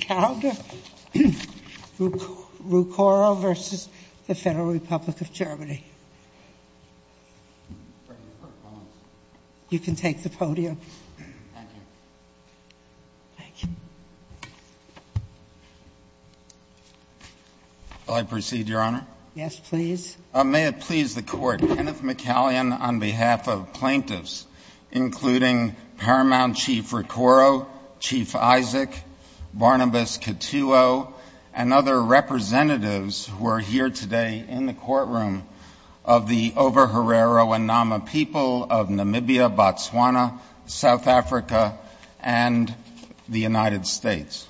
Germany. You can take the podium. Thank you. May I proceed, Your Honor? Yes, please. May it please the Court. Kenneth McCallion, on behalf of plaintiffs, including Paramount Chief Rukoro, Chief Isaac, Barnabas Katuo, and other representatives who are here today in the courtroom of the Over-Herrero and Nama people of Namibia, Botswana, South Africa, and the United States.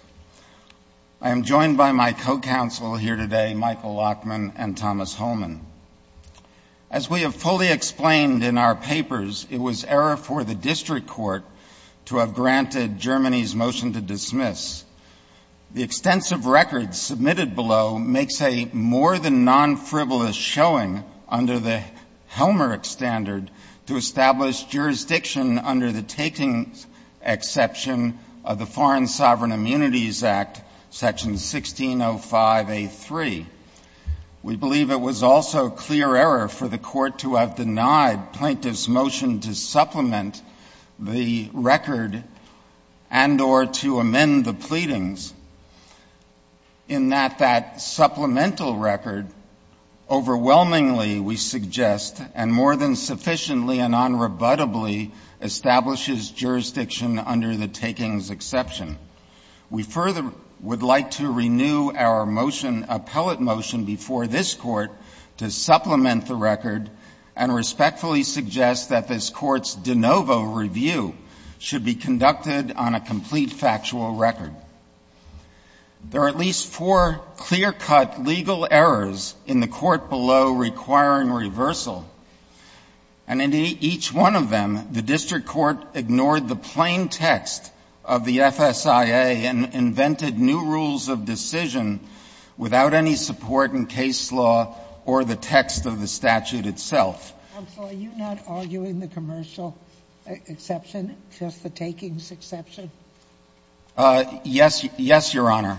I am joined by my co-counsel here today, Michael Lachman and Thomas Holman. As we have fully explained in our papers, it was error for the district court to have granted Germany's motion to dismiss. The extensive record submitted below makes a more-than-nonfrivolous showing under the Helmerich standard to establish jurisdiction under the taking exception of the Foreign Sovereign Immunities Act, section 1605A3. We believe it was also clear error for the court to have denied plaintiffs' motion to supplement the record and or to amend the pleadings in that that supplemental record overwhelmingly, we suggest, and more than We further would like to renew our motion, appellate motion, before this Court to supplement the record and respectfully suggest that this Court's de novo review should be conducted on a complete factual record. There are at least four clear-cut legal errors in the Court below requiring reversal, and in each one of them, the district court ignored the plain text of the FSIA and invented new rules of decision without any support in case law or the text of the statute itself. I'm sorry, you're not arguing the commercial exception, just the takings exception? Yes, Your Honor.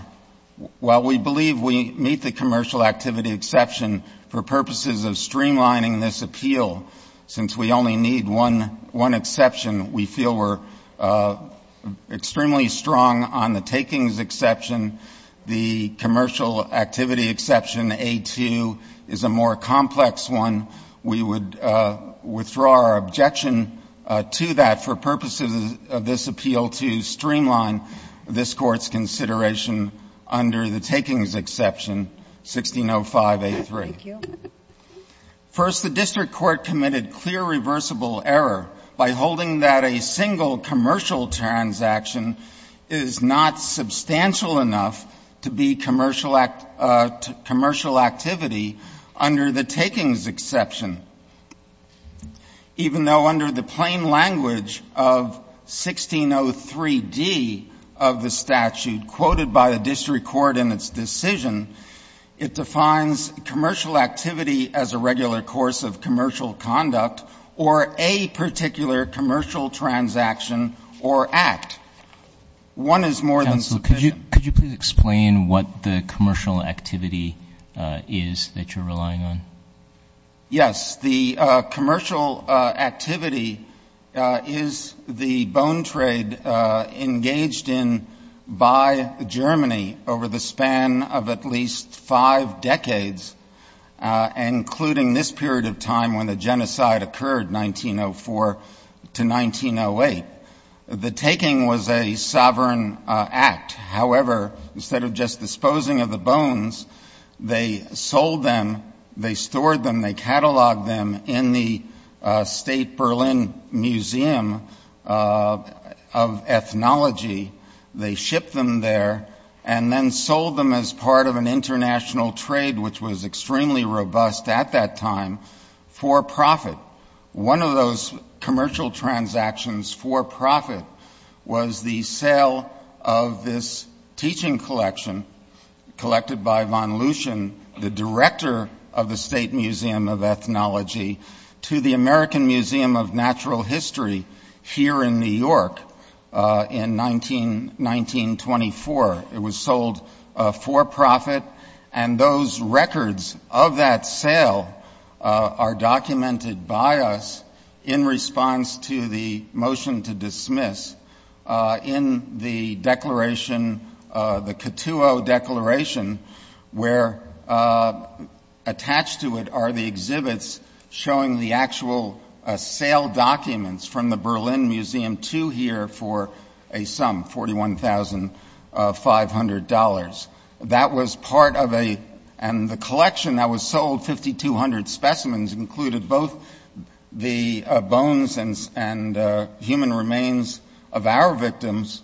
While we believe we meet the commercial activity exception for purposes of streamlining this appeal, since we only need one exception, we feel we're extremely strong on the takings exception. The commercial activity exception, A2, is a more complex one. We would withdraw our objection to that for purposes of this appeal to streamline this Court's consideration under the takings exception, 1605A3. Thank you. First, the district court committed clear reversible error by holding that a single commercial transaction is not substantial enough to be commercial activity under the takings exception, even though under the plain language of 1603D of the statute quoted by the district court in its decision, it defines commercial activity as a regular course of commercial conduct or a particular commercial transaction or act. One is more than sufficient. Counsel, could you please explain what the commercial activity is that you're relying on? Yes. The commercial activity is the bone trade engaged in by Germany over the span of at least five decades, including this period of time when the genocide occurred, 1904 to 1908. The taking was a sovereign act. However, instead of just disposing of the bones, they sold them, they stored them, they catalogued them in the State Berlin Museum of Ethnology. They shipped them there and then sold them as part of an international trade, which was extremely robust at that time, for profit. One of those commercial transactions for profit was the sale of this teaching collection collected by von Luschen, the director of the State Museum of Ethnology, to the American Museum of Natural History here in New York in 1924. It was sold for profit, and those records of that sale are documented by us in response to the motion to dismiss in the declaration, the Cattuo Declaration, where attached to it are the exhibits showing the actual sale documents from the Berlin Museum to here for a sum, $41,500. That was part of a, and the collection that was sold, 5,200 specimens, included both the bones and human remains of our victims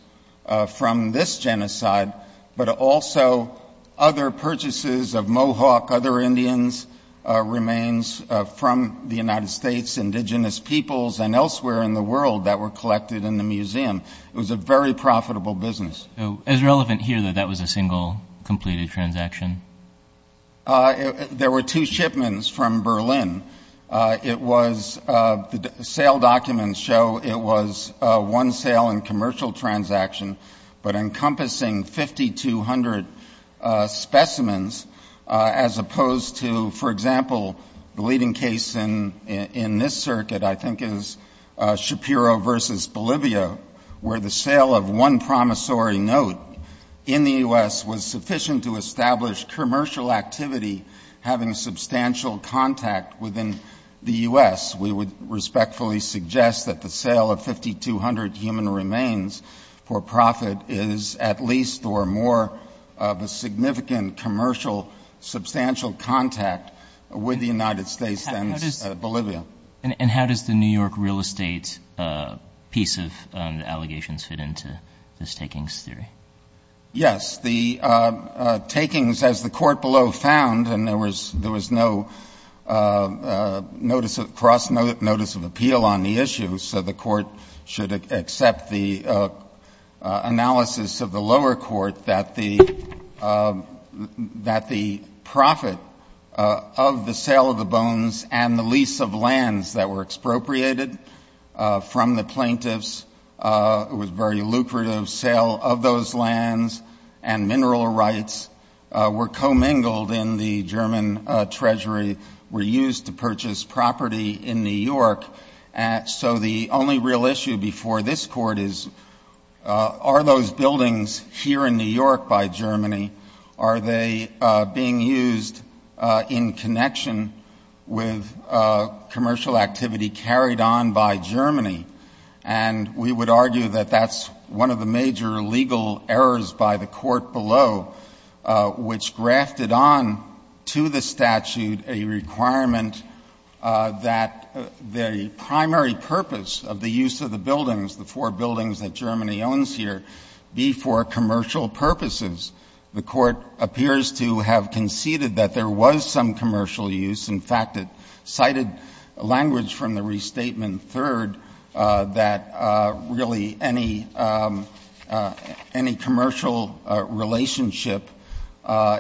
from this genocide, but also other purchases of Mohawk, other Indians' remains from the United States, indigenous peoples, and elsewhere in the world that were collected in the museum. It was a very profitable business. So, is it relevant here that that was a single completed transaction? There were two shipments from Berlin. It was, the sale documents show it was one sale and commercial transaction, but encompassing 5,200 specimens, as opposed to, for example, the one promissory note in the U.S. was sufficient to establish commercial activity having substantial contact within the U.S. We would respectfully suggest that the sale of 5,200 human remains for profit is at least or more of a significant commercial substantial contact with the United States than Bolivia. And how does the New York real estate piece of the allegations fit into this takings theory? Yes. The takings, as the court below found, and there was no notice of, cross notice of appeal on the issue, so the court should accept the analysis of the lower court that the profit of the sale of the bones and the lease of lands that were expropriated from the plaintiffs, it was a very lucrative sale of those lands and mineral rights were commingled in the German treasury, were used to purchase property in New York. So the only real issue before this Court is, are those buildings here in New York by Germany, are they being used in connection with commercial activity carried on by Germany? And we would argue that that's one of the major legal errors by the court below, which to the statute a requirement that the primary purpose of the use of the buildings, the four buildings that Germany owns here, be for commercial purposes. The court appears to have conceded that there was some commercial use. In fact, it cited language from the Restatement III that really any commercial relationship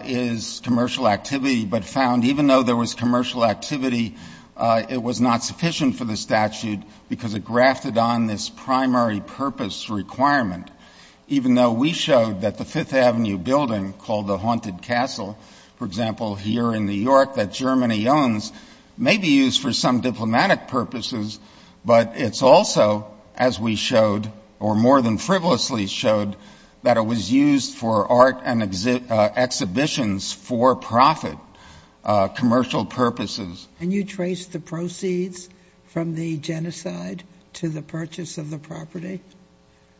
is commercial activity, but found even though there was commercial activity, it was not sufficient for the statute because it grafted on this primary purpose requirement, even though we showed that the Fifth Avenue building called the Haunted Castle, for example, here in New York that Germany owns may be used for art and exhibitions for profit, commercial purposes. And you trace the proceeds from the genocide to the purchase of the property?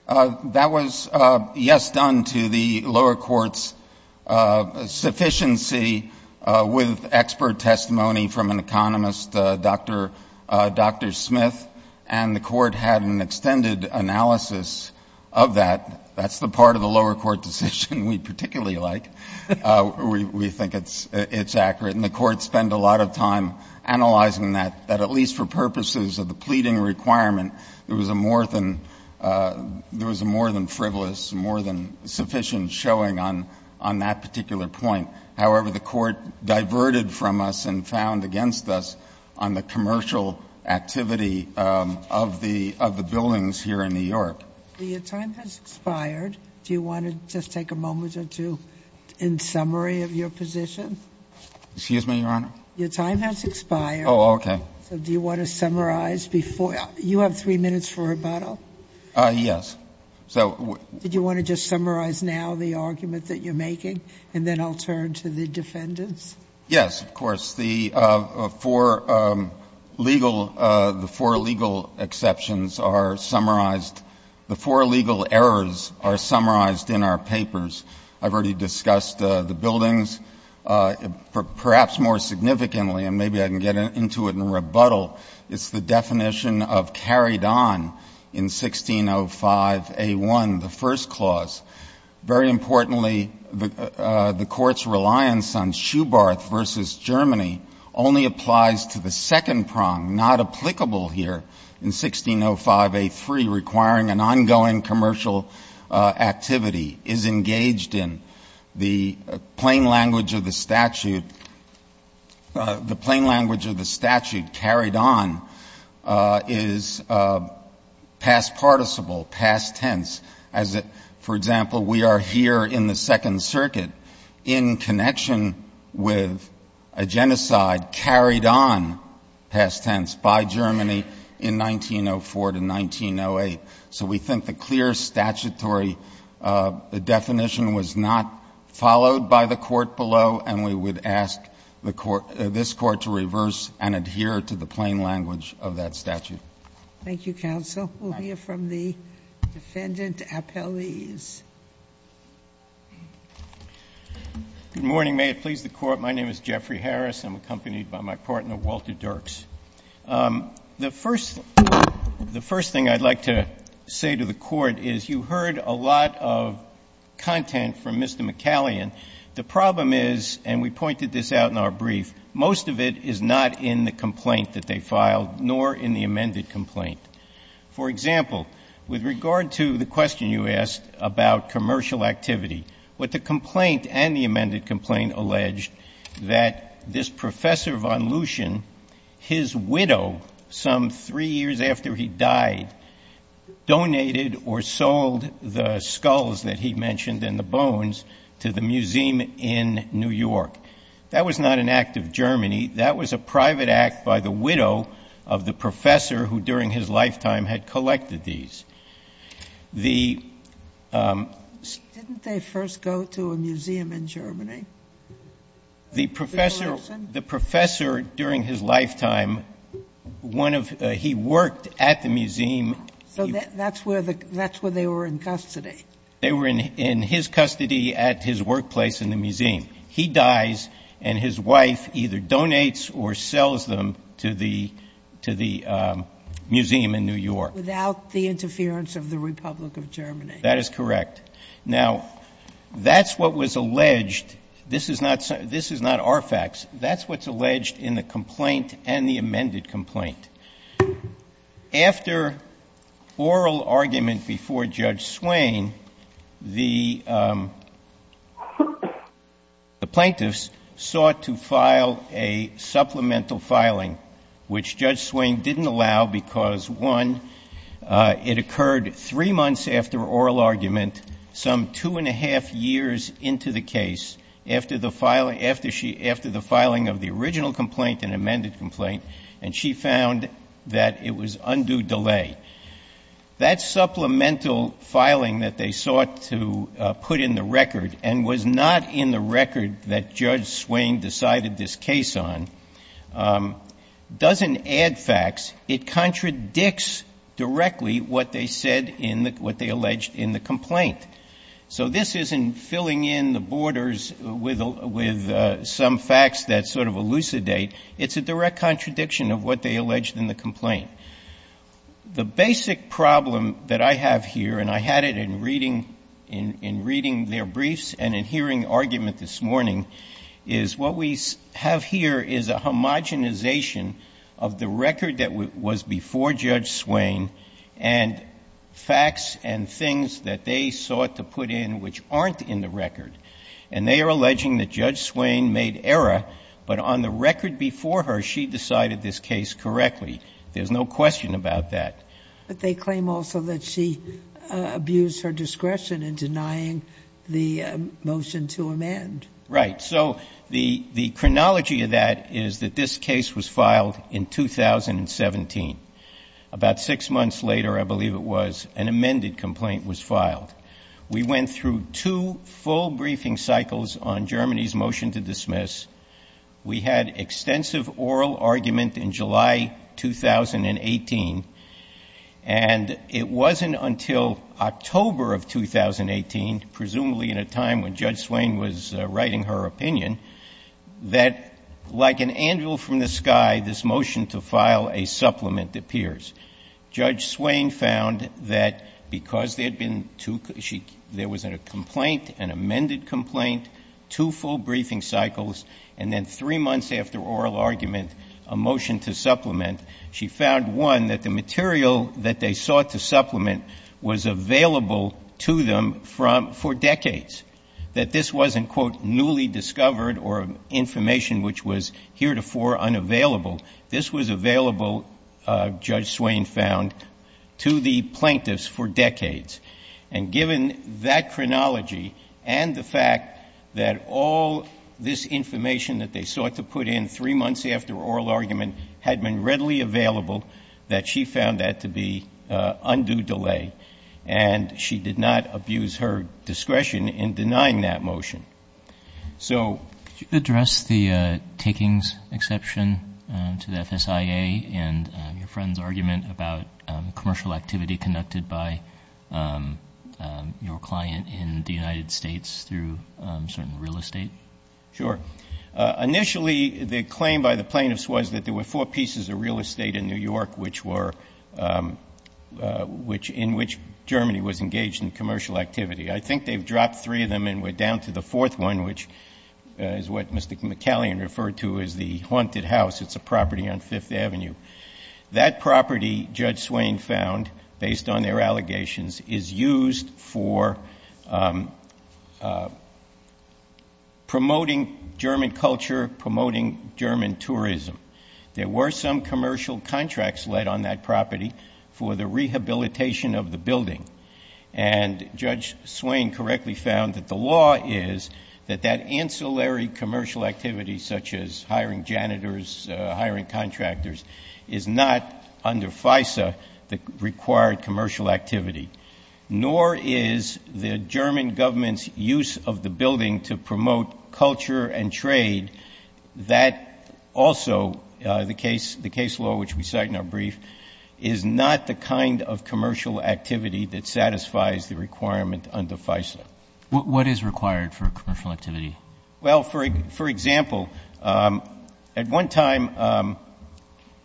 That was, yes, done to the lower court's sufficiency with expert testimony from an economist, Dr. Smith, and the court had an extended analysis of that. That's the part of the lower court decision we particularly like. We think it's accurate. And the court spent a lot of time analyzing that, that at least for purposes of the pleading requirement, there was a more than frivolous, more than sufficient showing on that particular point. However, the court diverted from us and found against us on the commercial activity of the buildings here in New York. Your time has expired. Do you want to just take a moment or two in summary of your position? Excuse me, Your Honor? Your time has expired. Oh, okay. So do you want to summarize before you have three minutes for rebuttal? Yes. Did you want to just summarize now the argument that you're making, and then I'll turn to the defendants? Yes, of course. The four legal exceptions are summarized. The four legal errors are summarized in our papers. I've already discussed the buildings. Perhaps more significantly, and maybe I can get into it in rebuttal, it's the definition of carried on in 1605A1, the first clause. Very importantly, the Court's reliance on Schubert versus Germany only applies to the second prong, not applicable here in 1605A3, requiring an ongoing commercial activity, is engaged in the plain language of the statute. The plain language of the statute, carried on, is past participle, past tense. For example, we are here in the Second Circuit in connection with a genocide carried on, past tense, by Germany in 1904 to 1908. So we think the clear statutory definition was not followed by the Court below, and we would ask this Court to reverse and adhere to the plain language of that statute. Thank you, counsel. We'll hear from the defendant appellees. Good morning. May it please the Court. My name is Jeffrey Harris. I'm accompanied by my partner, Walter Dirks. The first thing I'd like to say to the Court is you heard a lot of content from Mr. McCallion. The problem is, and we pointed this out in our brief, most of it is not in the complaint that they filed, nor in the amended complaint. For example, with regard to the question you asked about commercial activity, what the complaint and the amended complaint allege that this Professor von Luschen, his widow, some three years after he died, donated or sold the skulls that he mentioned and the bones to the museum in New York. That was not an act of Germany. That was a private act by the widow of the Professor who, during his lifetime, had collected these. The ---- Didn't they first go to a museum in Germany? The Professor, during his lifetime, one of the ---- he worked at the museum. So that's where they were in custody. They were in his custody at his workplace in the museum. He dies, and his wife either donates or sells them to the museum in New York. Without the interference of the Republic of Germany. That is correct. Now, that's what was alleged. This is not our facts. That's what's alleged in the complaint and the amended complaint. After oral argument before Judge Swain, the plaintiffs sought to file a supplemental filing, which Judge Swain didn't allow because, one, it occurred three months after oral argument, some two and a half years into the case, after the filing of the original complaint and amended complaint, and she found that it was undue delay. That supplemental filing that they sought to put in the record, and was not in the record that Judge Swain decided this case on, doesn't add facts. It contradicts directly what they said in the ---- what they alleged in the complaint. So this isn't filling in the borders with some facts that sort of elucidate. It's a direct contradiction of what they alleged in the complaint. The basic problem that I have here, and I had it in reading their briefs and in hearing the argument this morning, is what we have here is a homogenization of the record that was before Judge Swain and facts and things that they sought to put in which aren't in the record. And they are alleging that Judge Swain made error, but on the record before her, she decided this case correctly. There's no question about that. But they claim also that she abused her discretion in denying the motion to amend. Right. So the chronology of that is that this case was filed in 2017. About six months later, I believe it was, an amended complaint was filed. We went through two full briefing cycles on Germany's motion to dismiss. We had extensive oral argument in July 2018. And it wasn't until October of 2018, presumably in a time when Judge Swain was writing her opinion, that like an anvil from the sky, this motion to file a supplement appears. Judge Swain found that because there had been two, there was a complaint, an amended complaint, two full briefing cycles, and then three months after oral argument, a motion to supplement, she found, one, that the material that they sought to supplement was available to them for decades, that this wasn't, quote, newly discovered or information which was heretofore unavailable. This was available, Judge Swain found, to the plaintiffs for decades. And given that chronology and the fact that all this information that they sought to put in three months after oral argument had been readily available, that she found that to be undue delay, and she did not abuse her discretion in denying that motion. So you address the takings exception to the FSIA and your friend's argument about commercial activity conducted by your client in the United States through certain real estate? Sure. Initially, the claim by the plaintiffs was that there were four pieces of real estate in New York which were, which, in which Germany was engaged in commercial activity. I think they've dropped three of them and we're down to the fourth one, which is what Mr. McCallion referred to as the haunted house. It's a property on Fifth Avenue. That property, Judge Swain found, based on their allegations, is used for promoting German culture, promoting German tourism. There were some commercial contracts led on that property for the rehabilitation of the building. And Judge Swain correctly found that the law is that that ancillary commercial activity, such as hiring janitors, hiring contractors, is not under FISA the required commercial activity. Nor is the German government's use of the building to promote culture and trade that also, the case law which we cite in our brief, is not the kind of commercial activity that satisfies the requirement under FISA. What is required for commercial activity? Well, for example, at one time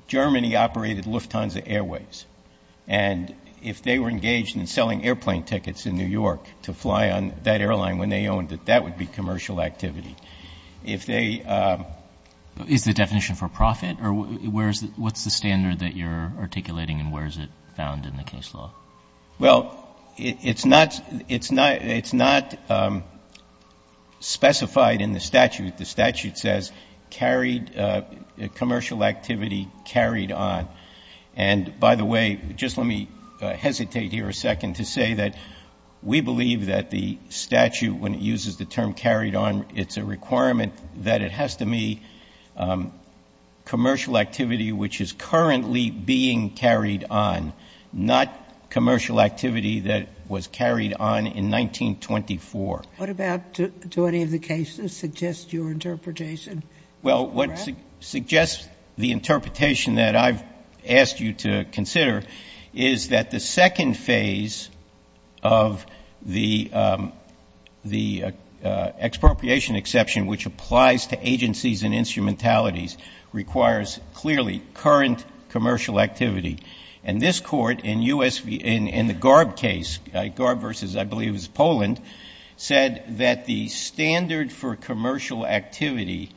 Germany operated Lufthansa Airways. And if they were engaged in selling airplane tickets in New York to fly on that airline when they owned it, that would be commercial activity. Is the definition for profit or what's the standard that you're articulating and where is it found in the case law? Well, it's not specified in the statute. The statute says carried, commercial activity carried on. And by the way, just let me hesitate here a second to say that we believe that the statute, when it uses the term carried on, it's a requirement that it has to be commercial activity which is currently being carried on, not commercial activity. Commercial activity that was carried on in 1924. What about, do any of the cases suggest your interpretation? Well, what suggests the interpretation that I've asked you to consider is that the second phase of the expropriation exception, which applies to agencies and instrumentalities, requires clearly current commercial activity. And this Court in the Garb case, Garb versus I believe it was Poland, said that the standard for commercial activity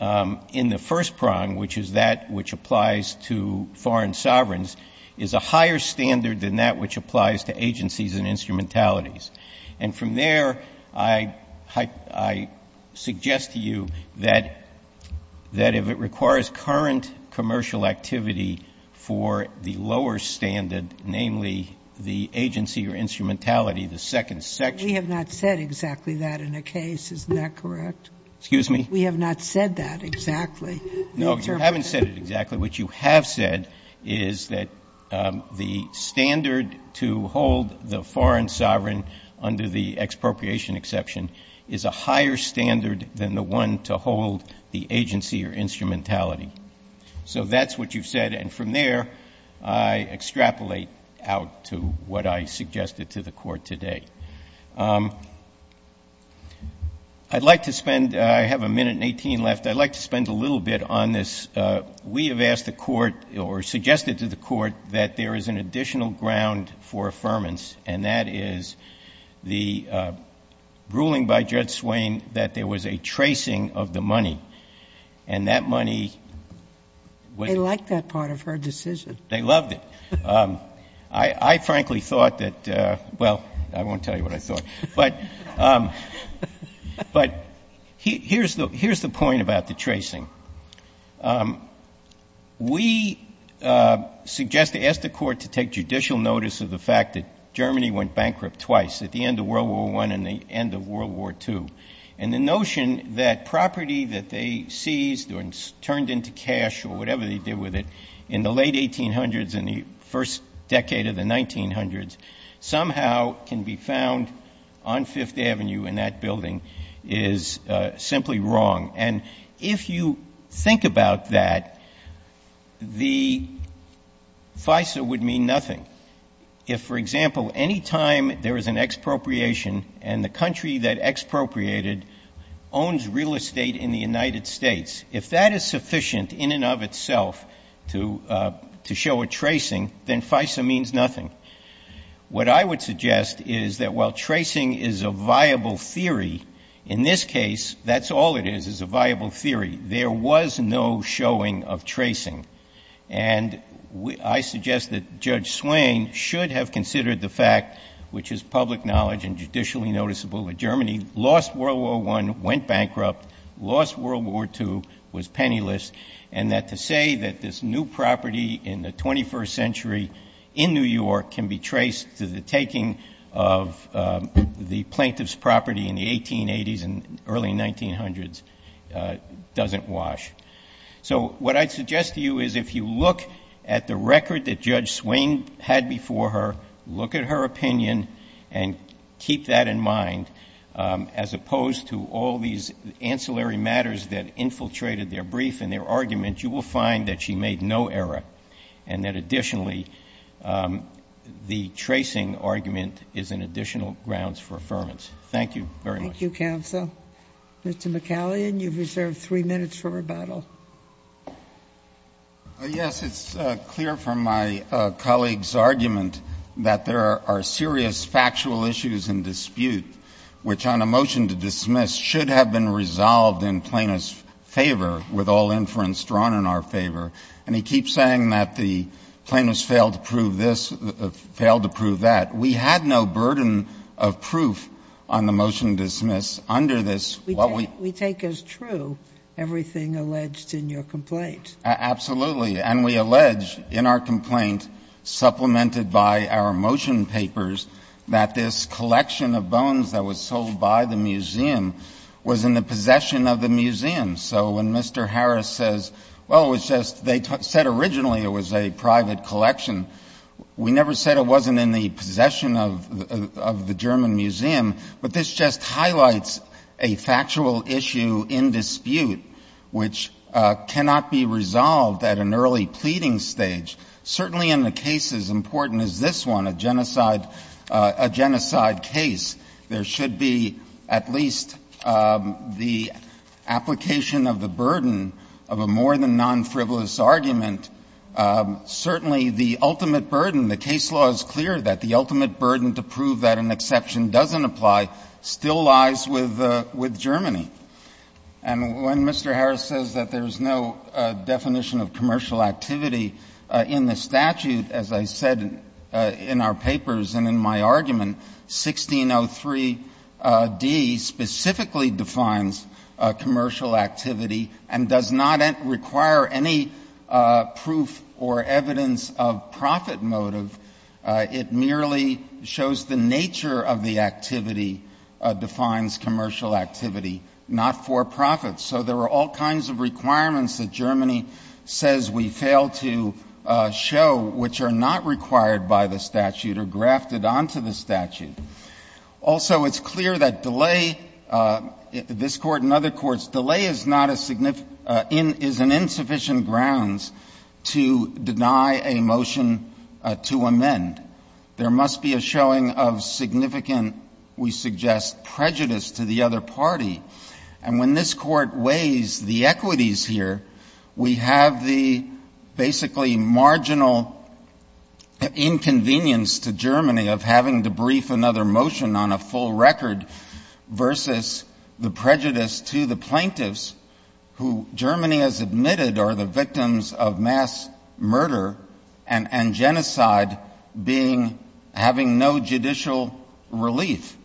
in the first prong, which is that which applies to foreign sovereigns, is a higher standard than that which applies to agencies and instrumentalities. And from there, I suggest to you that if it requires current commercial activity for the first prong, it's a higher standard than that which applies to agencies and instrumentalities. And I suggest that you consider the lower standard, namely the agency or instrumentality, the second section. We have not said exactly that in a case. Isn't that correct? Excuse me? We have not said that exactly. No, you haven't said it exactly. What you have said is that the standard to hold the foreign sovereign under the expropriation exception is a higher standard than the one to hold the agency or instrumentality. So that's what you've said. And from there, I extrapolate out to what I suggested to the Court today. I'd like to spend — I have a minute and 18 left. I'd like to spend a little bit on this. We have asked the Court or suggested to the Court that there is an additional ground for affirmance, and that is the ruling by Judge Swain that there was a tracing of the money, and that money was — They liked that part of her decision. They loved it. I frankly thought that — well, I won't tell you what I thought. But here's the point about the tracing. We suggest — ask the Court to take judicial notice of the fact that Germany went bankrupt twice, at the end of World War I and the end of World War II. And the notion that property that they seized or turned into cash or whatever they did with it in the late 1800s, in the first decade of the 1900s, somehow can be found on Fifth Avenue in that building is simply wrong. And if you think about that, the FISA would mean nothing if, for example, any time there is an expropriation and the country that expropriated owns real estate in the United States, if that is sufficient in and of itself to show a tracing, then FISA means nothing. What I would suggest is that while tracing is a viable theory, in this case, that's all it is, is a viable theory. There was no showing of tracing. And I suggest that Judge Swain should have considered the fact, which is public knowledge and judicially noticeable, that Germany lost World War I, went bankrupt, lost World War II, was penniless, and that to say that this new property in the 21st century in New York can be traced to the taking of the plaintiff's property in the 1880s and early 1900s doesn't wash. So what I'd suggest to you is if you look at the record that Judge Swain had before her, look at her opinion and keep that in mind, as opposed to all these ancillary matters that infiltrated their brief and their argument, you will find that she made no error. And that additionally, the tracing argument is an additional grounds for affirmance. Thank you very much. Thank you, counsel. Mr. McCallion, you've reserved three minutes for rebuttal. Yes, it's clear from my colleague's argument that there are serious factual issues in dispute, which on a motion to dismiss should have been resolved in plaintiff's favor, with all inference drawn in our favor. And he keeps saying that the plaintiffs failed to prove this, failed to prove that. We had no burden of proof on the motion to dismiss under this. We take as true everything alleged in your complaint. Absolutely. And we allege in our complaint, supplemented by our motion papers, that this collection of bones that was sold by the museum was in the possession of the museum. So when Mr. Harris says, well, it was just they said originally it was a private collection, we never said it wasn't in the possession of the German museum. But this just highlights a factual issue in dispute which cannot be resolved at an early pleading stage, certainly in a case as important as this one, a genocide case, there should be at least the application of the burden of a more than non-frivolous argument, certainly the ultimate burden, the case law is clear that the ultimate burden to prove that an exception doesn't apply still lies with Germany. And when Mr. Harris says that there is no definition of commercial activity in the statute, as I said in our papers and in my argument, 1603d specifically defines commercial activity and does not require any proof or evidence of profit motive. It merely shows the nature of the activity defines commercial activity, not for profit. So there are all kinds of requirements that Germany says we fail to show which are not required by the statute or grafted onto the statute. Also, it's clear that delay, this Court and other courts, delay is not a significant ‑‑ is an insufficient grounds to deny a motion to amend. There must be a showing of significant, we suggest, prejudice to the other party. And when this Court weighs the equities here, we have the basically marginal inconvenience to Germany of having to brief another motion on a full record versus the prejudice to the plaintiffs who Germany has admitted are the victims of mass murder and genocide being ‑‑ having no judicial relief.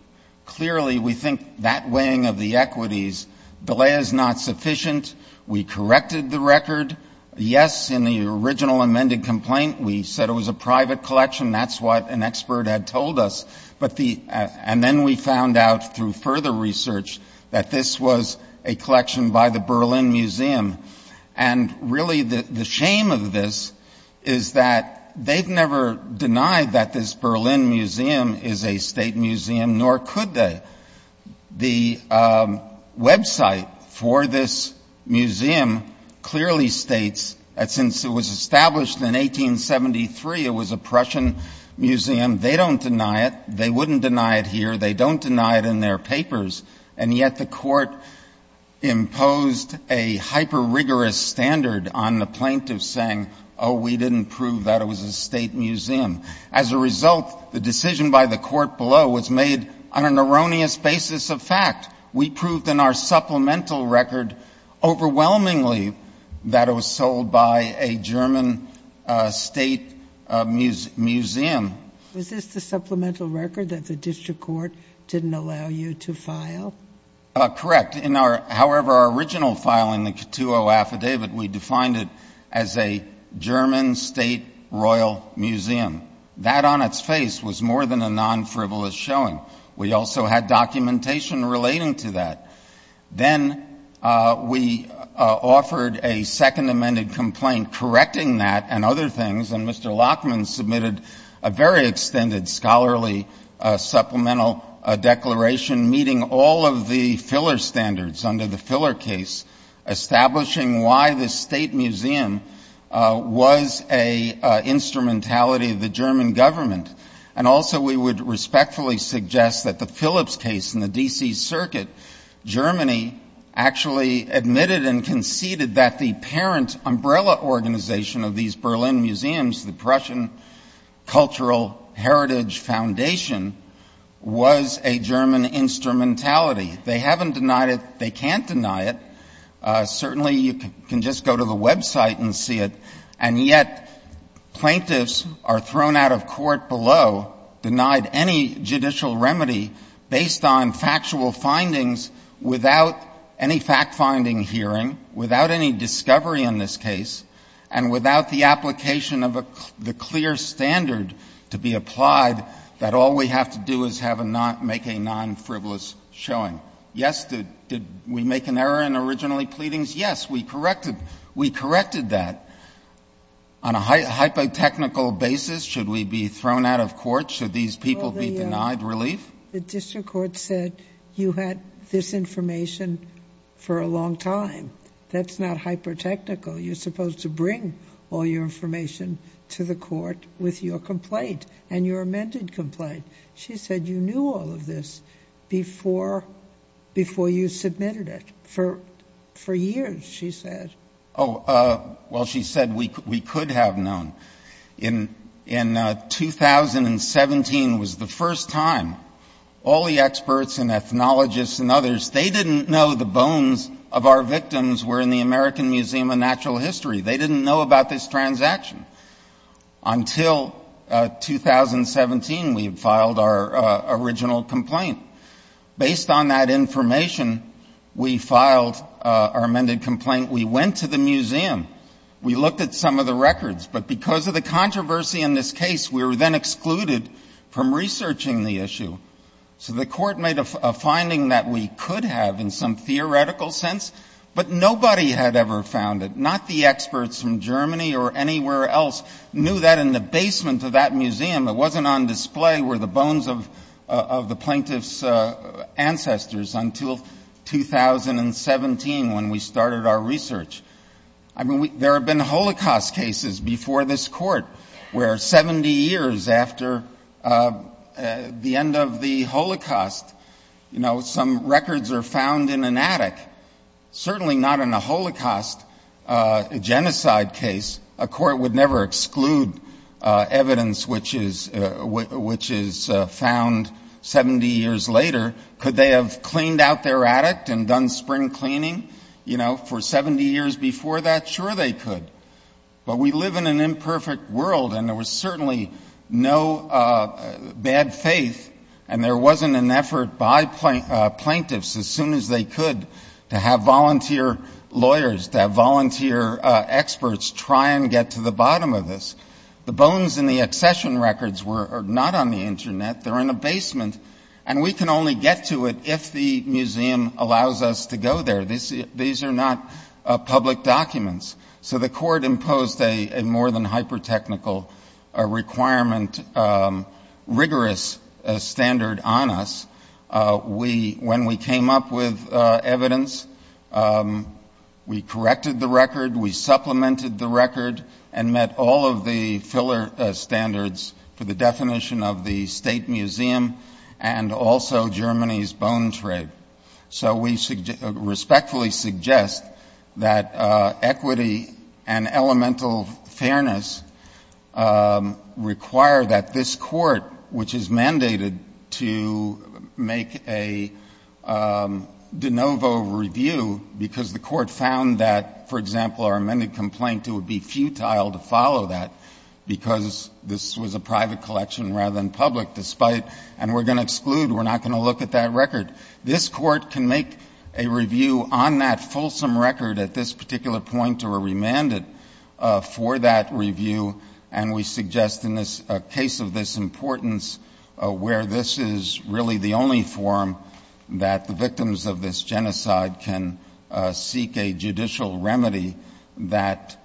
Clearly, we think that weighing of the equities, delay is not sufficient. We corrected the record. Yes, in the original amended complaint, we said it was a private collection. That's what an expert had told us. And then we found out through further research that this was a collection by the Berlin Museum. And really the shame of this is that they've never denied that this Berlin Museum is a state museum, nor could they. The website for this museum clearly states that since it was established in 1873, it was a Prussian museum. They don't deny it. They wouldn't deny it here. They don't deny it in their papers. And yet the Court imposed a hyper rigorous standard on the plaintiffs saying, oh, we didn't prove that it was a state museum. As a result, the decision by the Court below was made on an erroneous basis of fact. We proved in our supplemental record overwhelmingly that it was sold by a German state museum. Was this the supplemental record that the district court didn't allow you to file? Correct. However, our original filing, the Cattuo Affidavit, we defined it as a German state royal museum. That on its face was more than a non-frivolous showing. We also had documentation relating to that. Then we offered a second amended complaint correcting that and other things, and Mr. Lachman submitted a very extended scholarly supplemental declaration meeting all of the filler standards under the filler case, establishing why this state museum was an insubstantial instrumentality of the German government. And also we would respectfully suggest that the Phillips case in the D.C. circuit, Germany actually admitted and conceded that the parent umbrella organization of these Berlin museums, the Prussian Cultural Heritage Foundation, was a German instrumentality. They haven't denied it. They can't deny it. Certainly you can just go to the website and see it, and yet plaintiffs are thrown out of court below, denied any judicial remedy based on factual findings without any fact-finding hearing, without any discovery in this case, and without the application of the clear standard to be applied, that all we have to do is have a non — make a non-frivolous showing. Yes, did we make an error in originally pleadings? Yes, we corrected that. On a hypotechnical basis, should we be thrown out of court? Should these people be denied relief? The district court said you had this information for a long time. That's not hypotechnical. You're supposed to bring all your information to the court with your complaint and your amended complaint. She said you knew all of this before you submitted it, for years, she said. Oh, well, she said we could have known. In 2017 was the first time all the experts and ethnologists and others, they didn't know the bones of our victims were in the American Museum of Natural History. They didn't know about this transaction. Until 2017, we had filed our original complaint. Based on that information, we filed our amended complaint. We went to the museum. We looked at some of the records. But because of the controversy in this case, we were then excluded from researching the issue. So the court made a finding that we could have in some theoretical sense, but nobody had ever found it. Not the experts from Germany or anywhere else knew that in the basement of that museum. It wasn't on display were the bones of the plaintiff's ancestors until 2017 when we started our research. I mean, there have been Holocaust cases before this court where 70 years after the end of the Holocaust, some records are found in an attic. Certainly not in a Holocaust genocide case. A court would never exclude evidence which is found 70 years later. Could they have cleaned out their attic and done spring cleaning, you know, for 70 years before that? Sure they could. But we live in an imperfect world, and there was certainly no bad faith, and there wasn't an effort by plaintiffs as soon as they could to have volunteer lawyers, to have volunteer experts try and get to the bottom of this. The bones in the accession records were not on the internet. They're in a basement. And we can only get to it if the museum allows us to go there. These are not public documents. So the court imposed a more than hyper-technical requirement, rigorous standard on us. When we came up with evidence, we corrected the record, we supplemented the record, and met all of the filler standards for the definition of the state museum and also Germany's bone trade. So we respectfully suggest that equity and elemental fairness require that this court, which is a private collection, to make a de novo review, because the court found that, for example, our amended complaint, it would be futile to follow that, because this was a private collection rather than public, despite, and we're going to exclude, we're not going to look at that record. This court can make a review on that fulsome record at this particular point or remand it for that review, and we suggest in this case of this importance, where this is really the ultimate and the only forum that the victims of this genocide can seek a judicial remedy, that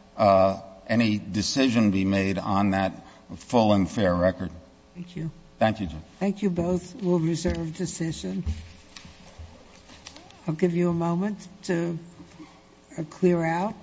any decision be made on that full and fair record. Thank you. Thank you both. We'll reserve decision. I'll give you a moment to clear out.